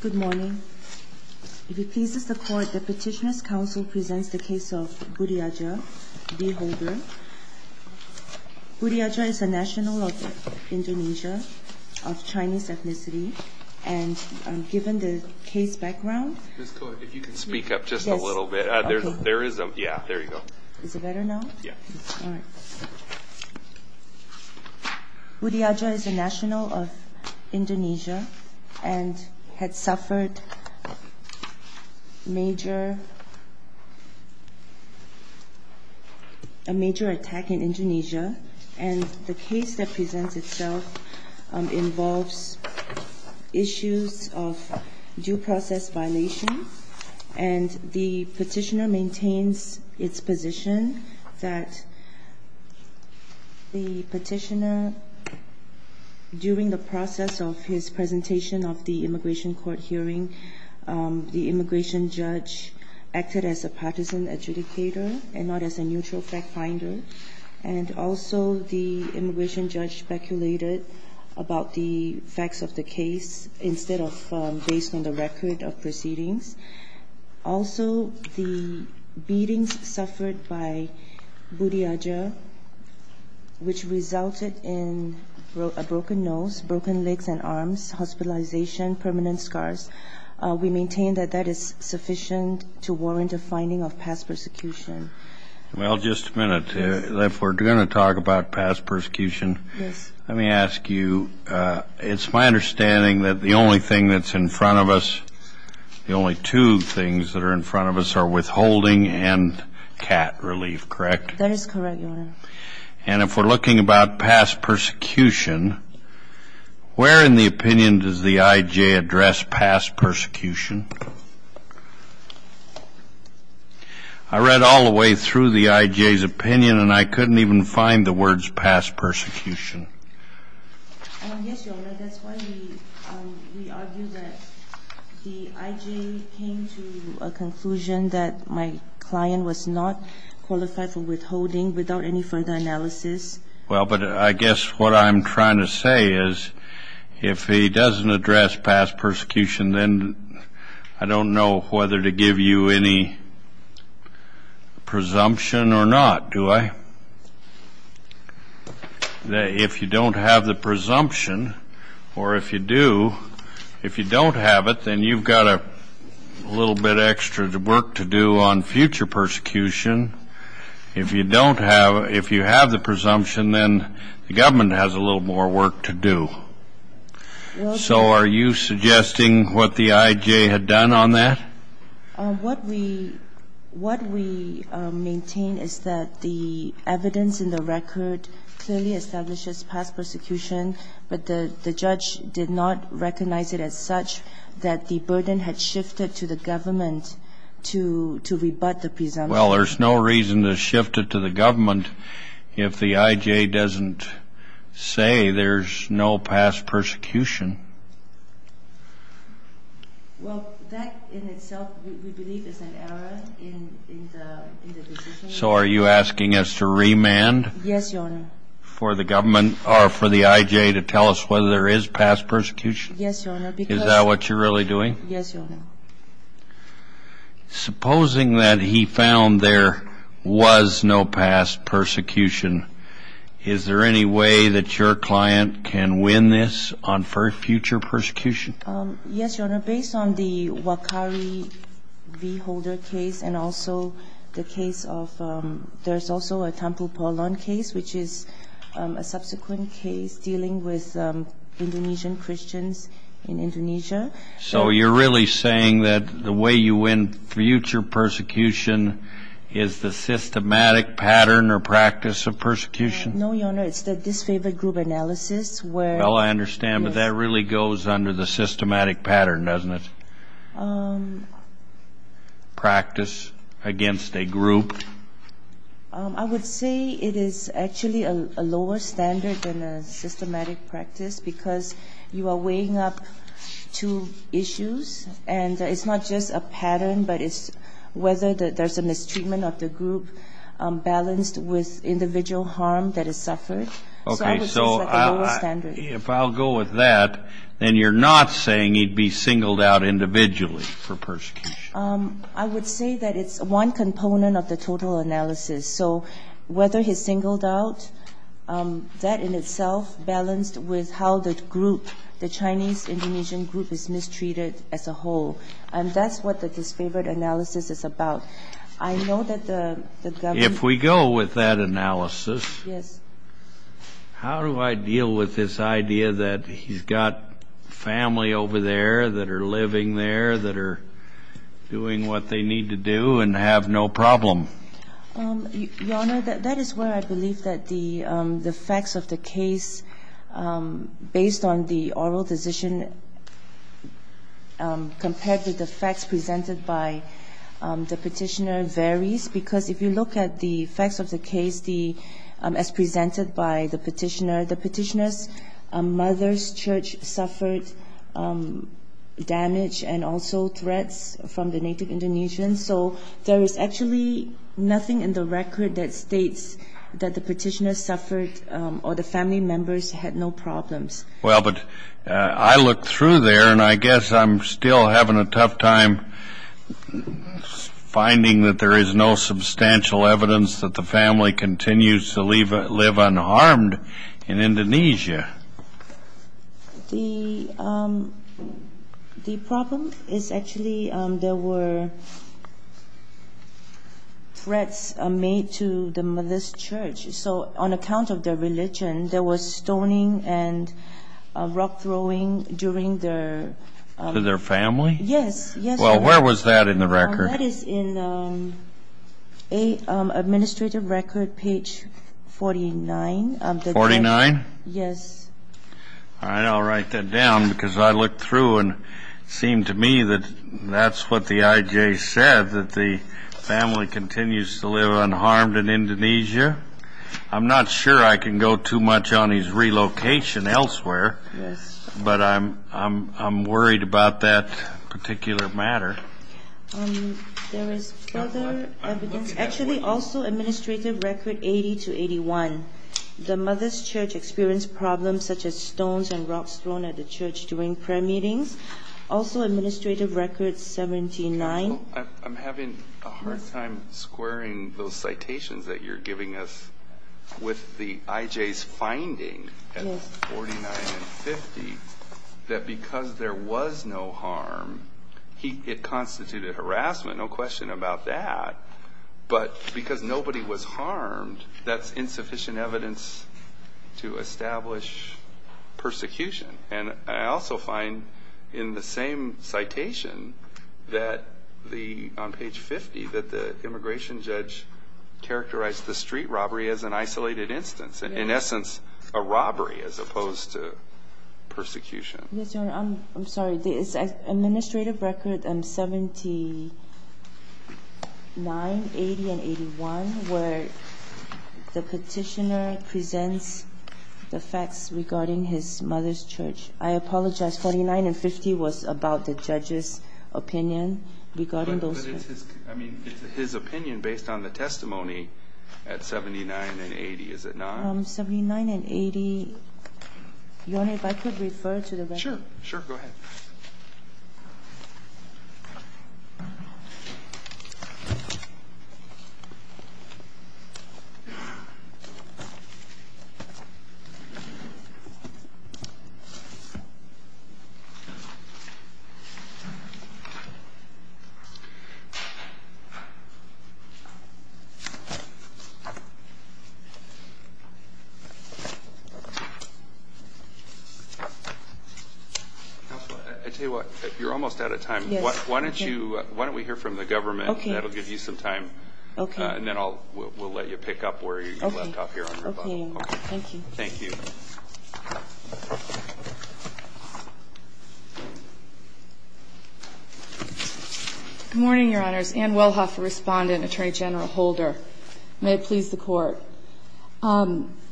Good morning. If it pleases the Court, the Petitioners' Council presents the case of Buriaja v. Holder. Buriaja is a national of Indonesia of Chinese ethnicity, and given the case background... Ms. Koh, if you could speak up just a little bit. There is a... yeah, there you go. Is it better now? Yeah. All right. Buriaja is a national of Indonesia and had suffered major... a major attack in Indonesia, and the case that presents itself involves issues of due process violation, and the Petitioner maintains its position that the Petitioner, during the process of his presentation of the immigration court hearing, the immigration judge acted as a partisan adjudicator and not as a neutral fact finder, and also the immigration judge speculated about the facts of the case instead of based on the record of proceedings. Also, the beatings suffered by Buriaja, which resulted in a broken nose, broken legs and arms, hospitalization, permanent scars, we maintain that that is sufficient to warrant a finding of past persecution. Well, just a minute. If we're going to talk about past persecution, let me ask you, it's my understanding that the only thing that's in front of us, the only two things that are in front of us are withholding and cat relief, correct? That is correct, Your Honor. And if we're looking about past persecution, where in the opinion does the IJ address past persecution? I read all the way through the IJ's opinion and I couldn't even find the words past persecution. Yes, Your Honor, that's why we argue that the IJ came to a conclusion that my client was not qualified for withholding without any further analysis. Well, but I guess what I'm trying to say is if he doesn't address past persecution, then I don't know whether to give you any presumption or not, do I? If you don't have the presumption or if you do, if you don't have it, then you've got a little bit extra work to do on future persecution. If you don't have, if you have the presumption, then the government has a little more work to do. So are you suggesting what the IJ had done on that? What we maintain is that the evidence in the record clearly establishes past persecution, but the judge did not recognize it as such that the burden had shifted to the government to rebut the presumption. Well, there's no reason to shift it to the government if the IJ doesn't say there's no past persecution. Well, that in itself we believe is an error in the decision. So are you asking us to remand for the government or for the IJ to tell us whether there is past persecution? Yes, Your Honor. Is that what you're really doing? Yes, Your Honor. Supposing that he found there was no past persecution, is there any way that your client can win this on future persecution? Yes, Your Honor. Based on the Wakari v. Holder case and also the case of, there's also a Tampupolon case, which is a subsequent case dealing with Indonesian Christians in Indonesia. So you're really saying that the way you win future persecution is the systematic pattern or practice of persecution? No, Your Honor. It's the disfavored group analysis where the ---- Well, I understand, but that really goes under the systematic pattern, doesn't it? Practice against a group. I would say it is actually a lower standard than a systematic practice because you are weighing up two issues, and it's not just a pattern, but it's whether there's a mistreatment of the group balanced with individual harm that is suffered. So I would say it's like a lower standard. Okay. So if I'll go with that, then you're not saying he'd be singled out individually for persecution? I would say that it's one component of the total analysis. So whether he's singled out, that in itself balanced with how the group, the Chinese-Indonesian group, is mistreated as a whole, and that's what the disfavored analysis is about. I know that the government ---- If we go with that analysis, how do I deal with this idea that he's got family over there that are living there, that are doing what they need to do and have no problem? Your Honor, that is where I believe that the facts of the case based on the oral decision compared to the facts presented by the Petitioner varies, because if you look at the facts of the case as presented by the Petitioner, the Petitioner's mother's church suffered damage and also threats from the native Indonesians. So there is actually nothing in the record that states that the Petitioner suffered or the family members had no problems. Well, but I looked through there, and I guess I'm still having a tough time finding that there is no substantial evidence that the family continues to live unharmed in Indonesia. The problem is actually there were threats made to the mother's church. So on account of their religion, there was stoning and rock throwing during their ---- To their family? Yes. Well, where was that in the record? That is in Administrative Record, page 49. Forty-nine? Yes. All right. I'll write that down, because I looked through, and it seemed to me that that's what the IJ said, that the family continues to live unharmed in Indonesia. I'm not sure I can go too much on his relocation elsewhere. Yes. But I'm worried about that particular matter. There is further evidence, actually also Administrative Record 80-81, the mother's church experienced problems such as stones and rocks thrown at the church during prayer meetings. Also Administrative Record 79. I'm having a hard time squaring those citations that you're giving us with the IJ's finding at 49 and 50 that because there was no harm, it constituted harassment, no question about that. But because nobody was harmed, that's insufficient evidence to establish persecution. And I also find in the same citation that the ---- on page 50, that the immigration judge characterized the street robbery as an isolated instance, in essence a robbery as opposed to persecution. Yes, Your Honor. I'm sorry. It's Administrative Record 79, 80, and 81, where the Petitioner presents the facts regarding his mother's church. I apologize. 49 and 50 was about the judge's opinion regarding those facts. But it's his opinion based on the testimony at 79 and 80, is it not? 79 and 80, Your Honor, if I could refer to the record. Sure, sure. Counsel, I tell you what, you're almost out of time. Yes. Why don't you ---- why don't we hear from the government? Okay. That will give you some time. Okay. And then I'll ---- we'll let you pick up where you left off here on your phone. Okay. Okay. Thank you. Thank you. Good morning, Your Honors. Ann Wellhoff, a respondent, Attorney General Holder. May it please the Court.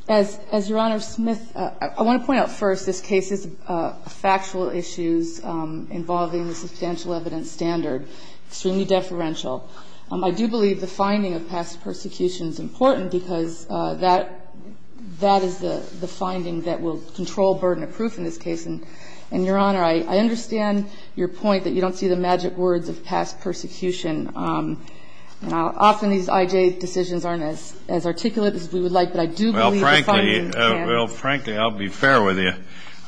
As Your Honor, Smith, I want to point out first this case's factual issues involving the substantial evidence standard, extremely deferential. I do believe the finding of past persecution is important because that is the finding that will control burden of proof in this case. And, Your Honor, I understand your point that you don't see the magic words of past persecution. Often these I.J. decisions aren't as articulate as we would like, but I do believe the finding Well, frankly, I'll be fair with you.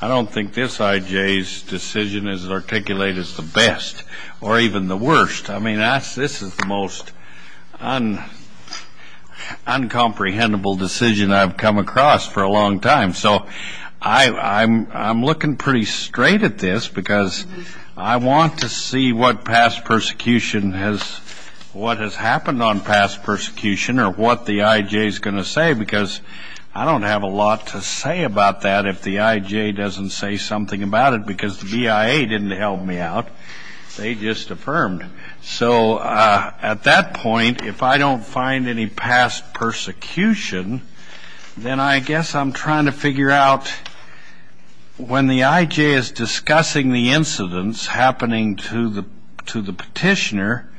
I don't think this I.J.'s decision is as articulate as the best or even the worst. I mean, this is the most uncomprehendable decision I've come across for a long time. So I'm looking pretty straight at this because I want to see what has happened on past persecution or what the I.J.'s going to say because I don't have a lot to say about that if the I.J. doesn't say something about it because the BIA didn't help me out. They just affirmed. So at that point, if I don't find any past persecution, then I guess I'm trying to figure out when the I.J. is discussing the incidents happening to the petitioner,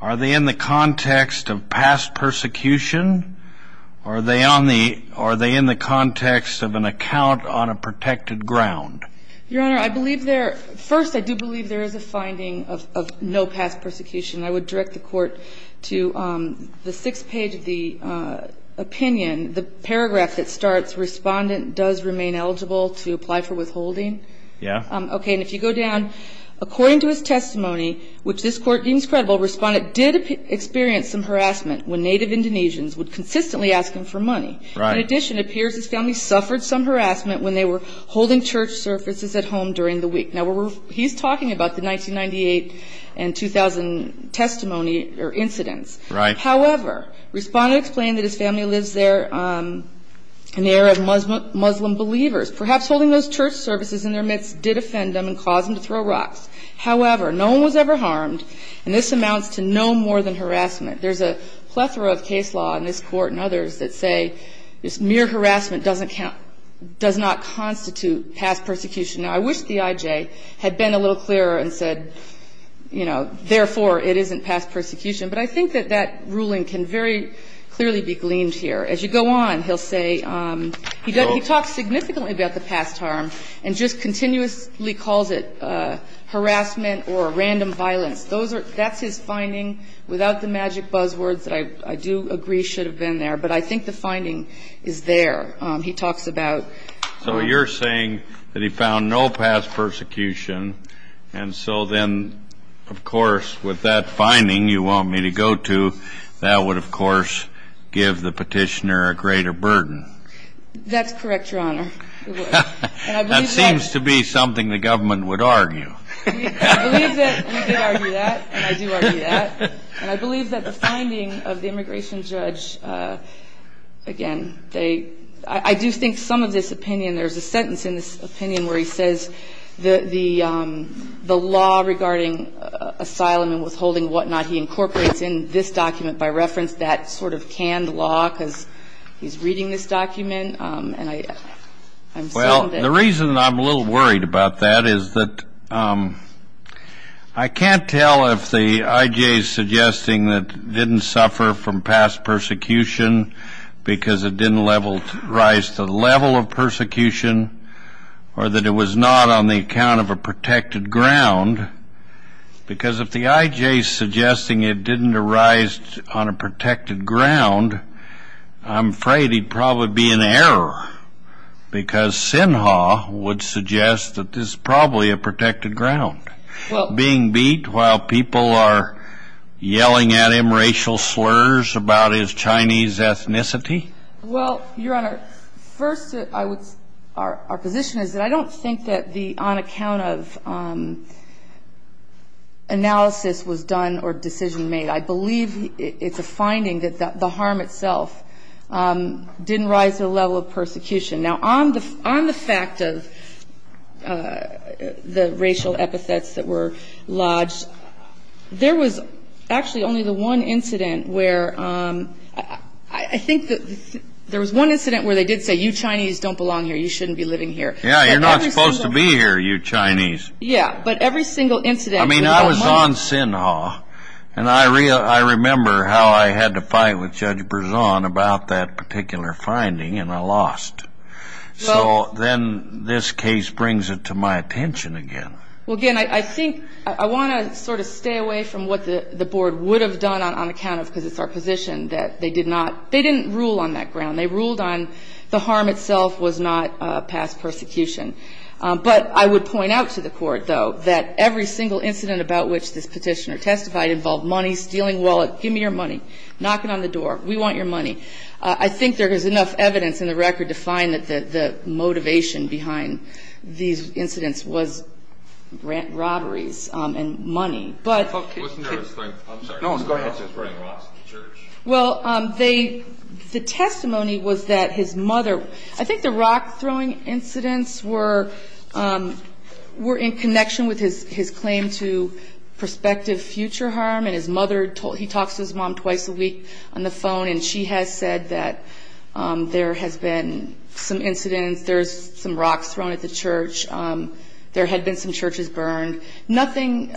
are they in the context of past persecution? Are they in the context of an account on a protected ground? Your Honor, I believe there – first, I do believe there is a finding of no past persecution. I would direct the Court to the sixth page of the opinion, the paragraph that starts Respondent does remain eligible to apply for withholding. Yeah. Okay. And if you go down, according to his testimony, which this Court deems credible, Respondent did experience some harassment when native Indonesians would consistently ask him for money. Right. And in addition, it appears his family suffered some harassment when they were holding church services at home during the week. Now, he's talking about the 1998 and 2000 testimony or incidents. Right. However, Respondent explained that his family lives there in the era of Muslim believers. Perhaps holding those church services in their midst did offend them and cause them to throw rocks. However, no one was ever harmed, and this amounts to no more than harassment. There's a plethora of case law in this Court and others that say this mere harassment doesn't count – does not constitute past persecution. Now, I wish the IJ had been a little clearer and said, you know, therefore, it isn't past persecution. But I think that that ruling can very clearly be gleaned here. As you go on, he'll say he talks significantly about the past harm and just continuously calls it harassment or random violence. Those are – that's his finding without the magic buzzwords that I do agree should have been there. But I think the finding is there. He talks about – So you're saying that he found no past persecution, and so then, of course, with that finding you want me to go to, that would, of course, give the Petitioner a greater burden. That's correct, Your Honor. It would. And I believe that – That seems to be something the government would argue. I believe that we could argue that, and I do argue that. And I believe that the finding of the immigration judge, again, they – I do think some of this opinion – there's a sentence in this opinion where he says the law regarding asylum and withholding and whatnot, he incorporates in this document by reference that sort of canned law because he's reading this document. Well, the reason I'm a little worried about that is that I can't tell if the IJ is suggesting that it didn't suffer from past persecution because it didn't rise to the level of persecution or that it was not on the account of a protected ground, because if the IJ is suggesting it didn't arise on a protected ground, I'm afraid he'd probably be in error, because Sinha would suggest that this is probably a protected ground. Well – Being beat while people are yelling at him racial slurs about his Chinese ethnicity. Well, Your Honor, first I would – our position is that I don't think that the on account of analysis was done or decision made. I believe it's a finding that the harm itself didn't rise to the level of persecution. Now, on the fact of the racial epithets that were lodged, there was actually only the one incident where – I think that there was one incident where they did say you Chinese don't belong here, you shouldn't be living here. Yeah, you're not supposed to be here, you Chinese. Yeah, but every single incident – I mean, I was on Sinha, and I remember how I had to fight with Judge Berzon about that particular finding, and I lost. So then this case brings it to my attention again. Well, again, I think – I want to sort of stay away from what the board would have done on account of – because it's our position that they did not – they didn't rule on that ground. They ruled on the harm itself was not past persecution. But I would point out to the court, though, that every single incident about which this petitioner testified involved money, stealing wallet, give me your money, knock it on the door, we want your money. I think there is enough evidence in the record to find that the motivation behind these incidents was robberies and money. But – I'm sorry. Go ahead. Well, they – the testimony was that his mother – I think the rock-throwing incidents were in connection with his claim to prospective future harm. And his mother – he talks to his mom twice a week on the phone, and she has said that there has been some incidents. There's some rocks thrown at the church. There had been some churches burned. Nothing –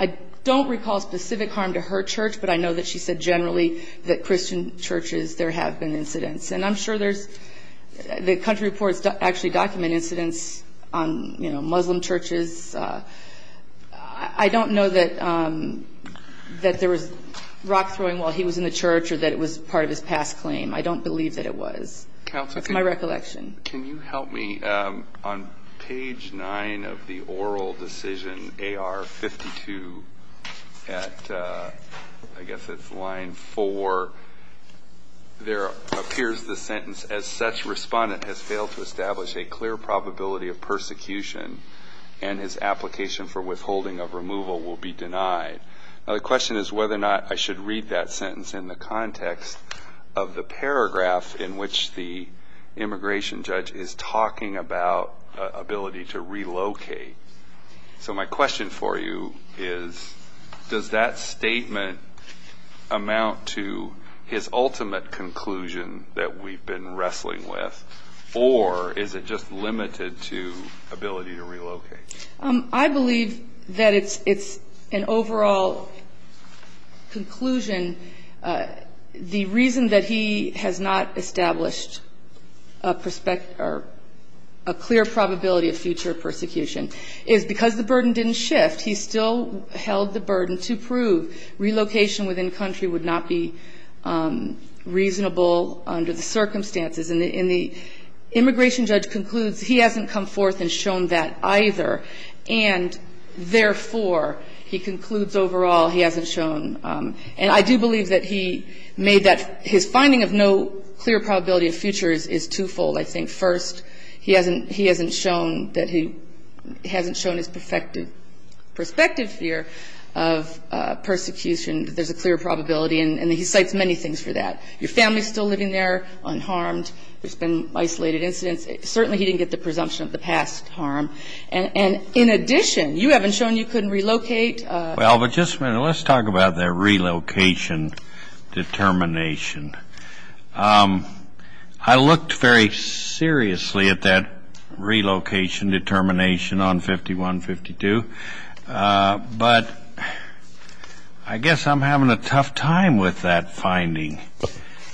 I don't recall specific harm to her church, but I know that she said generally that Christian churches, there have been incidents. And I'm sure there's – the country reports actually document incidents on, you know, Muslim churches. I don't know that there was rock-throwing while he was in the church or that it was part of his past claim. I don't believe that it was. Counsel, can you – That's my recollection. Can you help me? On page 9 of the oral decision AR-52 at – I guess it's line 4, there appears the sentence, as such, respondent has failed to establish a clear probability of persecution and his application for withholding of removal will be denied. Now, the question is whether or not I should read that sentence in the context of the paragraph in which the immigration judge is talking about ability to relocate. So my question for you is, does that statement amount to his ultimate conclusion that we've been wrestling with, or is it just limited to ability to relocate? I believe that it's an overall conclusion. The reason that he has not established a clear probability of future persecution is because the burden didn't shift. He still held the burden to prove relocation within country would not be reasonable under the circumstances. And the immigration judge concludes he hasn't come forth and shown that either, and therefore, he concludes overall he hasn't shown. And I do believe that he made that – his finding of no clear probability of future is twofold, I think. First, he hasn't shown that he – he hasn't shown his perspective here of persecution, that there's a clear probability, and he cites many things for that. Your family is still living there unharmed. There's been isolated incidents. Certainly, he didn't get the presumption of the past harm. And in addition, you haven't shown you couldn't relocate. Well, but just a minute. Let's talk about that relocation determination. I looked very seriously at that relocation determination on 5152, but I guess I'm having a tough time with that finding.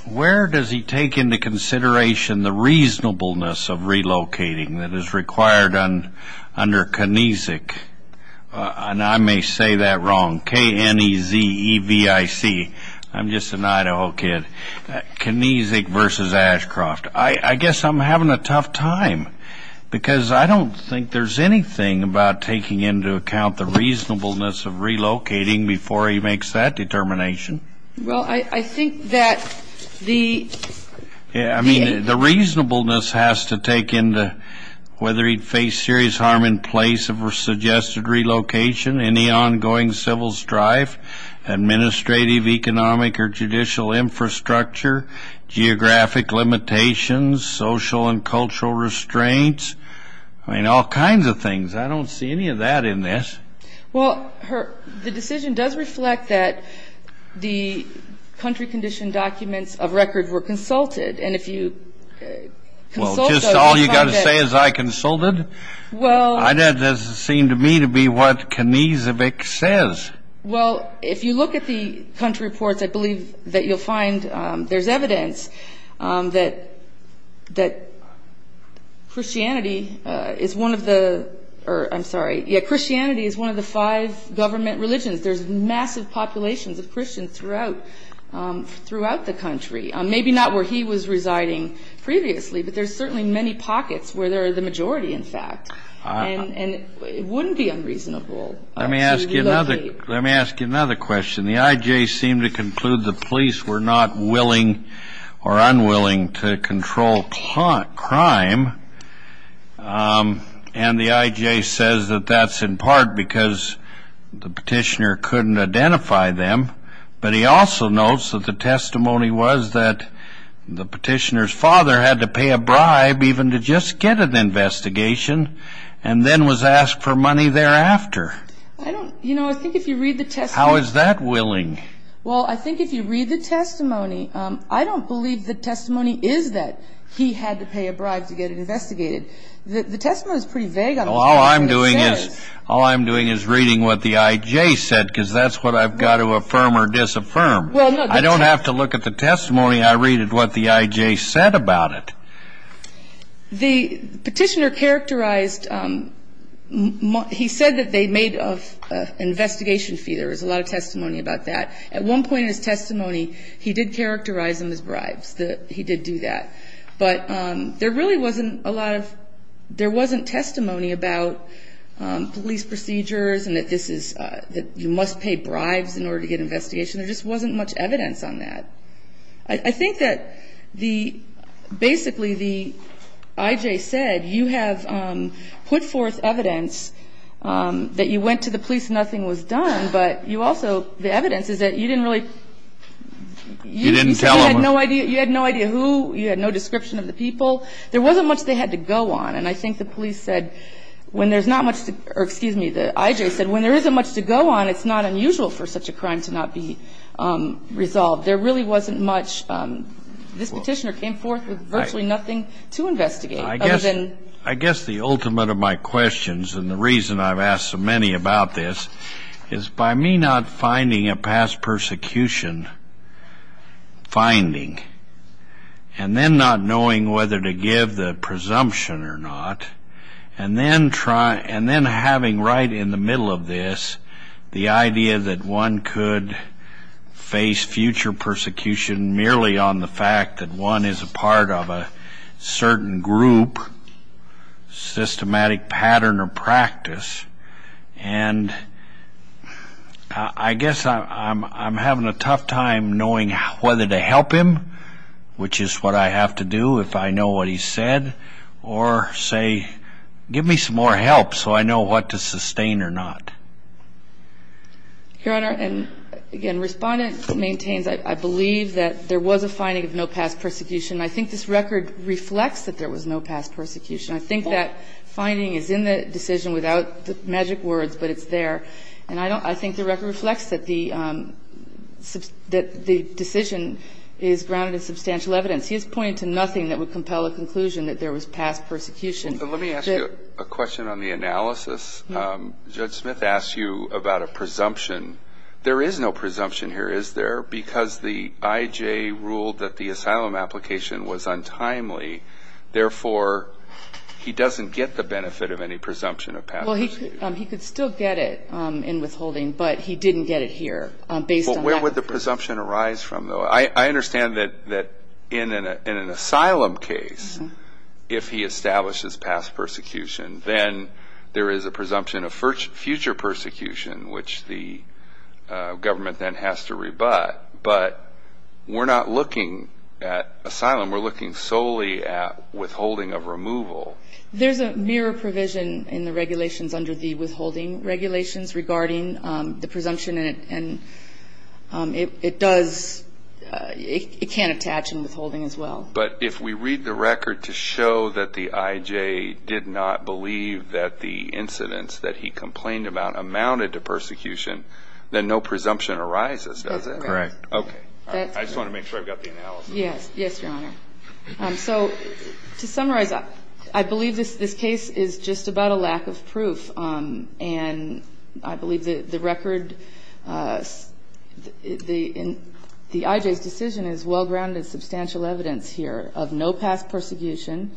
Where does he take into consideration the reasonableness of relocating that is required under Knesset? I may say that wrong, K-N-E-Z-E-V-I-C. I'm just an Idaho kid. Knesset versus Ashcroft. I guess I'm having a tough time because I don't think there's anything about taking into account the reasonableness of relocating before he makes that determination. Well, I think that the – any ongoing civil strife, administrative, economic, or judicial infrastructure, geographic limitations, social and cultural restraints, I mean, all kinds of things. I don't see any of that in this. Well, the decision does reflect that the country condition documents of record were consulted, and if you consult those, you'll find that – Well, just all you've got to say is, I consulted? Well – That doesn't seem to me to be what Knesset says. Well, if you look at the country reports, I believe that you'll find there's evidence that Christianity is one of the – I'm sorry. Yeah, Christianity is one of the five government religions. There's massive populations of Christians throughout the country, maybe not where he was residing previously, but there's certainly many pockets where there are the majority, in fact, and it wouldn't be unreasonable to relocate. Let me ask you another question. The IJ seemed to conclude the police were not willing or unwilling to control crime, and the IJ says that that's in part because the petitioner couldn't identify them, but he also notes that the testimony was that the petitioner's father had to pay a bribe even to just get an investigation and then was asked for money thereafter. I don't – you know, I think if you read the testimony – How is that willing? Well, I think if you read the testimony, I don't believe the testimony is that he had to pay a bribe to get investigated. The testimony is pretty vague on what the IJ said. Because that's what I've got to affirm or disaffirm. I don't have to look at the testimony. I read what the IJ said about it. The petitioner characterized – he said that they made an investigation fee. There was a lot of testimony about that. At one point in his testimony, he did characterize them as bribes. He did do that. But there really wasn't a lot of – there wasn't testimony about police procedures and that this is – that you must pay bribes in order to get an investigation. There just wasn't much evidence on that. I think that the – basically the IJ said, you have put forth evidence that you went to the police and nothing was done, but you also – the evidence is that you didn't really – You didn't tell them. You had no idea who – you had no description of the people. There wasn't much they had to go on. And I think the police said when there's not much to – or, excuse me, the IJ said, when there isn't much to go on, it's not unusual for such a crime to not be resolved. There really wasn't much. This petitioner came forth with virtually nothing to investigate. I guess the ultimate of my questions and the reason I've asked so many about this is by me not finding a past persecution finding and then not knowing whether to give the presumption or not and then having right in the middle of this the idea that one could face future persecution merely on the fact that one is a part of a certain group, systematic pattern or practice. And I guess I'm having a tough time knowing whether to help him, which is what I have to do if I know what he said, or say, give me some more help so I know what to sustain or not. Your Honor, and, again, Respondent maintains, I believe, that there was a finding of no past persecution. I think this record reflects that there was no past persecution. I think that finding is in the decision without magic words, but it's there. And I think the record reflects that the decision is grounded in substantial evidence. He is pointing to nothing that would compel a conclusion that there was past persecution. Let me ask you a question on the analysis. Judge Smith asked you about a presumption. There is no presumption here, is there, because the IJ ruled that the asylum application was untimely. Therefore, he doesn't get the benefit of any presumption of past persecution. Well, he could still get it in withholding, but he didn't get it here based on that. Well, where would the presumption arise from, though? I understand that in an asylum case, if he establishes past persecution, then there is a presumption of future persecution, which the government then has to rebut. But we're not looking at asylum. We're looking solely at withholding of removal. There's a mirror provision in the regulations under the withholding regulations regarding the presumption, and it does – it can attach in withholding as well. But if we read the record to show that the IJ did not believe that the incidents that he complained about amounted to persecution, then no presumption arises, does it? That's correct. Okay. I just want to make sure I've got the analysis. Yes. Yes, Your Honor. And I believe the record – the IJ's decision is well-grounded substantial evidence here of no past persecution.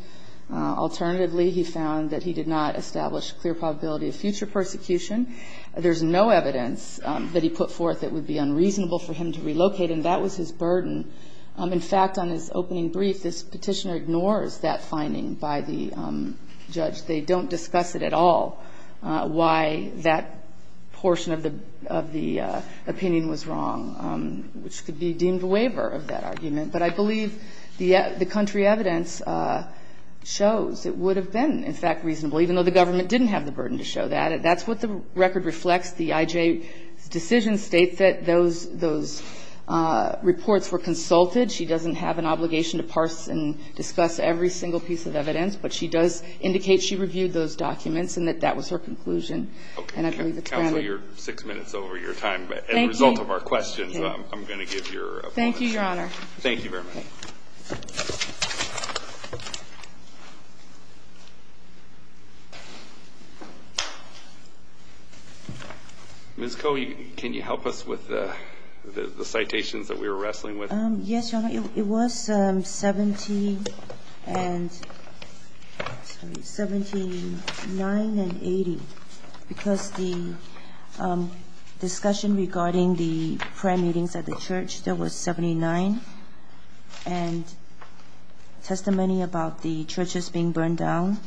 Alternatively, he found that he did not establish clear probability of future persecution. There's no evidence that he put forth that would be unreasonable for him to relocate, and that was his burden. In fact, on his opening brief, this Petitioner ignores that finding by the judge. They don't discuss it at all why that portion of the opinion was wrong, which could be deemed a waiver of that argument. But I believe the country evidence shows it would have been, in fact, reasonable, even though the government didn't have the burden to show that. That's what the record reflects. The IJ's decision states that those reports were consulted. She doesn't have an obligation to parse and discuss every single piece of evidence, but she does indicate she reviewed those documents and that that was her conclusion. And I believe it's granted. Okay. Counsel, you're six minutes over your time. Thank you. But as a result of our questions, I'm going to give your apology. Thank you, Your Honor. Thank you very much. Okay. Ms. Koh, can you help us with the citations that we were wrestling with? Yes, Your Honor. It was 79 and 80, because the discussion regarding the prayer meetings at the church, there was 79, and testimony about the churches being burned down.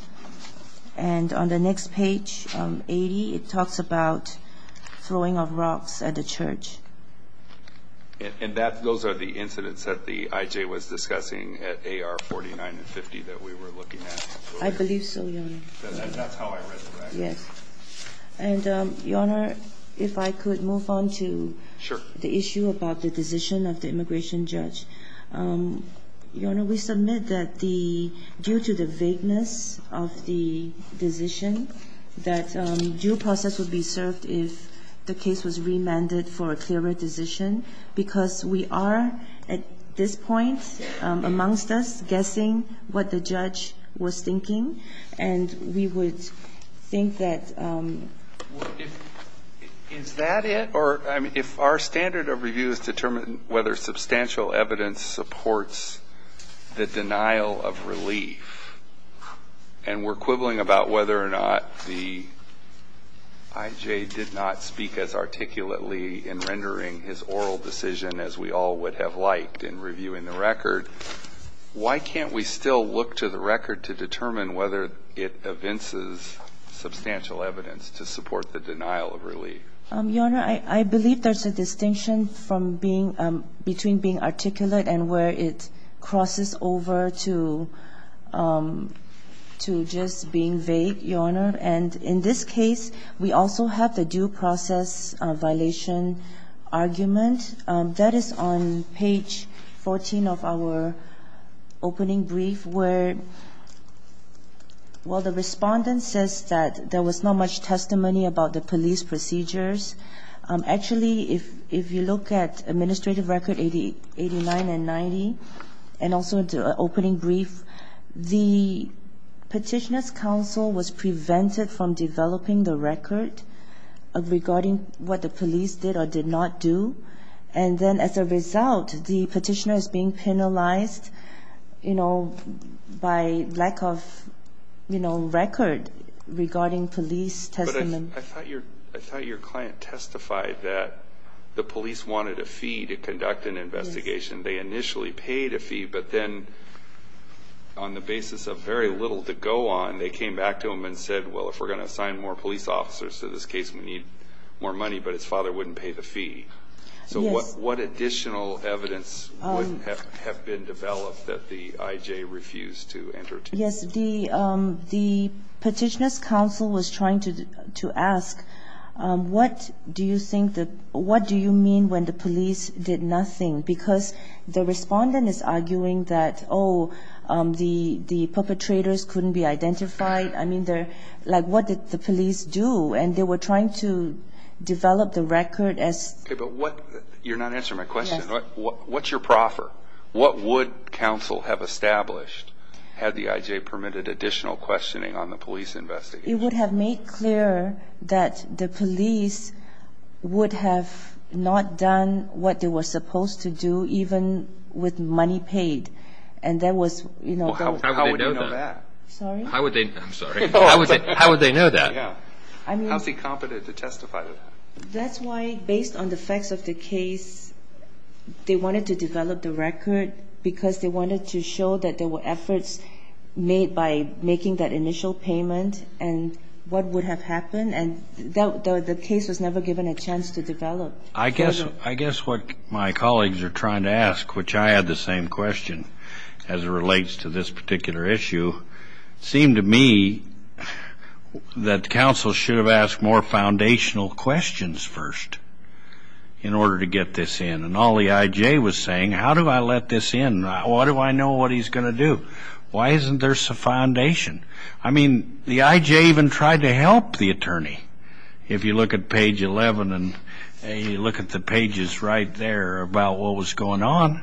And on the next page, 80, it talks about throwing of rocks at the church. And those are the incidents that the IJ was discussing at AR 49 and 50 that we were looking at. I believe so, Your Honor. That's how I read the record. Yes. And, Your Honor, if I could move on to the issue about the decision of the immigration judge. Your Honor, we submit that due to the vagueness of the decision, that due process would be served if the case was remanded for a clearer decision. Because we are, at this point, amongst us, guessing what the judge was thinking. And we would think that... Is that it? Or, I mean, if our standard of review is to determine whether substantial evidence supports the denial of relief, and we're quibbling about whether or not the IJ did not speak as articulately in rendering his oral decision as we all would have liked in reviewing the record, why can't we still look to the record to determine whether it evinces substantial evidence to support the denial of relief? Your Honor, I believe there's a distinction from being – between being articulate and where it crosses over to just being vague, Your Honor. And in this case, we also have the due process violation argument. That is on page 14 of our opening brief, where, well, the respondent says that there was not much testimony about the police procedures. Actually, if you look at administrative record 89 and 90, and also the opening brief, the Petitioner's counsel was prevented from developing the record regarding what the police did or did not do. And then as a result, the Petitioner is being penalized, you know, by lack of, you know, record regarding police testimony. I thought your client testified that the police wanted a fee to conduct an investigation. They initially paid a fee, but then on the basis of very little to go on, they came back to him and said, well, if we're going to assign more police officers to this case, we need more money. But his father wouldn't pay the fee. So what additional evidence would have been developed that the IJ refused to enter? Yes. The Petitioner's counsel was trying to ask, what do you think the ñ what do you mean when the police did nothing? Because the respondent is arguing that, oh, the perpetrators couldn't be identified. I mean, they're ñ like, what did the police do? And they were trying to develop the record as ñ Okay. But what ñ you're not answering my question. Yes. What's your proffer? What would counsel have established had the IJ permitted additional questioning on the police investigation? It would have made clear that the police would have not done what they were supposed to do, even with money paid. And there was, you know, both ñ Well, how would they know that? Sorry? How would they ñ I'm sorry. How would they know that? Yeah. I mean ñ How's he competent to testify to that? That's why, based on the facts of the case, they wanted to develop the record, because they wanted to show that there were efforts made by making that initial payment and what would have happened. And the case was never given a chance to develop. I guess what my colleagues are trying to ask, which I had the same question, as it relates to this particular issue, seemed to me that counsel should have asked more foundational questions first in order to get this in. And all the IJ was saying, how do I let this in? How do I know what he's going to do? Why isn't there some foundation? I mean, the IJ even tried to help the attorney. If you look at page 11 and you look at the pages right there about what was going on,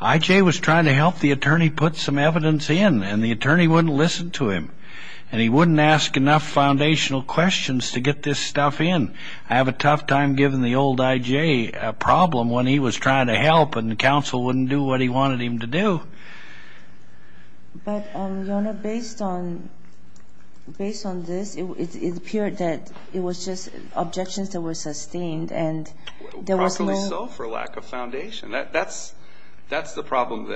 IJ was trying to help the attorney put some evidence in. And the attorney wouldn't listen to him. And he wouldn't ask enough foundational questions to get this stuff in. I have a tough time giving the old IJ a problem when he was trying to help and counsel wouldn't do what he wanted him to do. But, Your Honor, based on this, it appeared that it was just objections that were sustained and there was no ñ Probably so for lack of foundation. That's the problem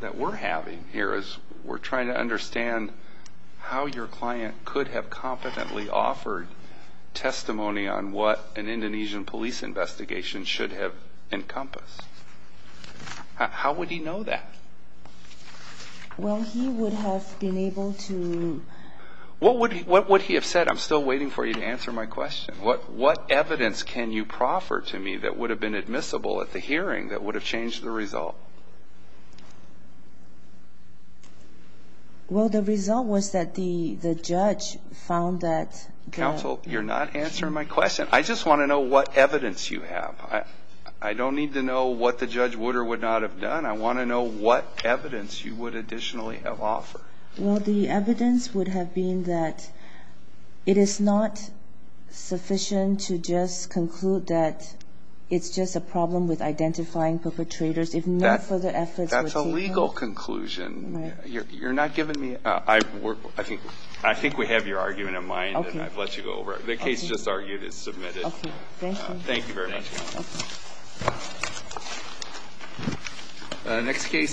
that we're having here is we're trying to understand how your client could have competently offered testimony on what an Indonesian police investigation should have encompassed. How would he know that? Well, he would have been able to ñ What would he have said? I'm still waiting for you to answer my question. What evidence can you proffer to me that would have been admissible at the hearing that would have changed the result? Well, the result was that the judge found that ñ Counsel, you're not answering my question. I just want to know what evidence you have. I don't need to know what the judge would or would not have done. I want to know what evidence you would additionally have offered. Well, the evidence would have been that it is not sufficient to just conclude that it's just a problem with identifying perpetrators. If no further efforts were taken ñ That's a legal conclusion. Right. You're not giving me ñ I think we have your argument in mind. Okay. And I've let you go over it. Okay. The case just argued is submitted. Okay. Thank you. Thank you very much. Thank you. Okay.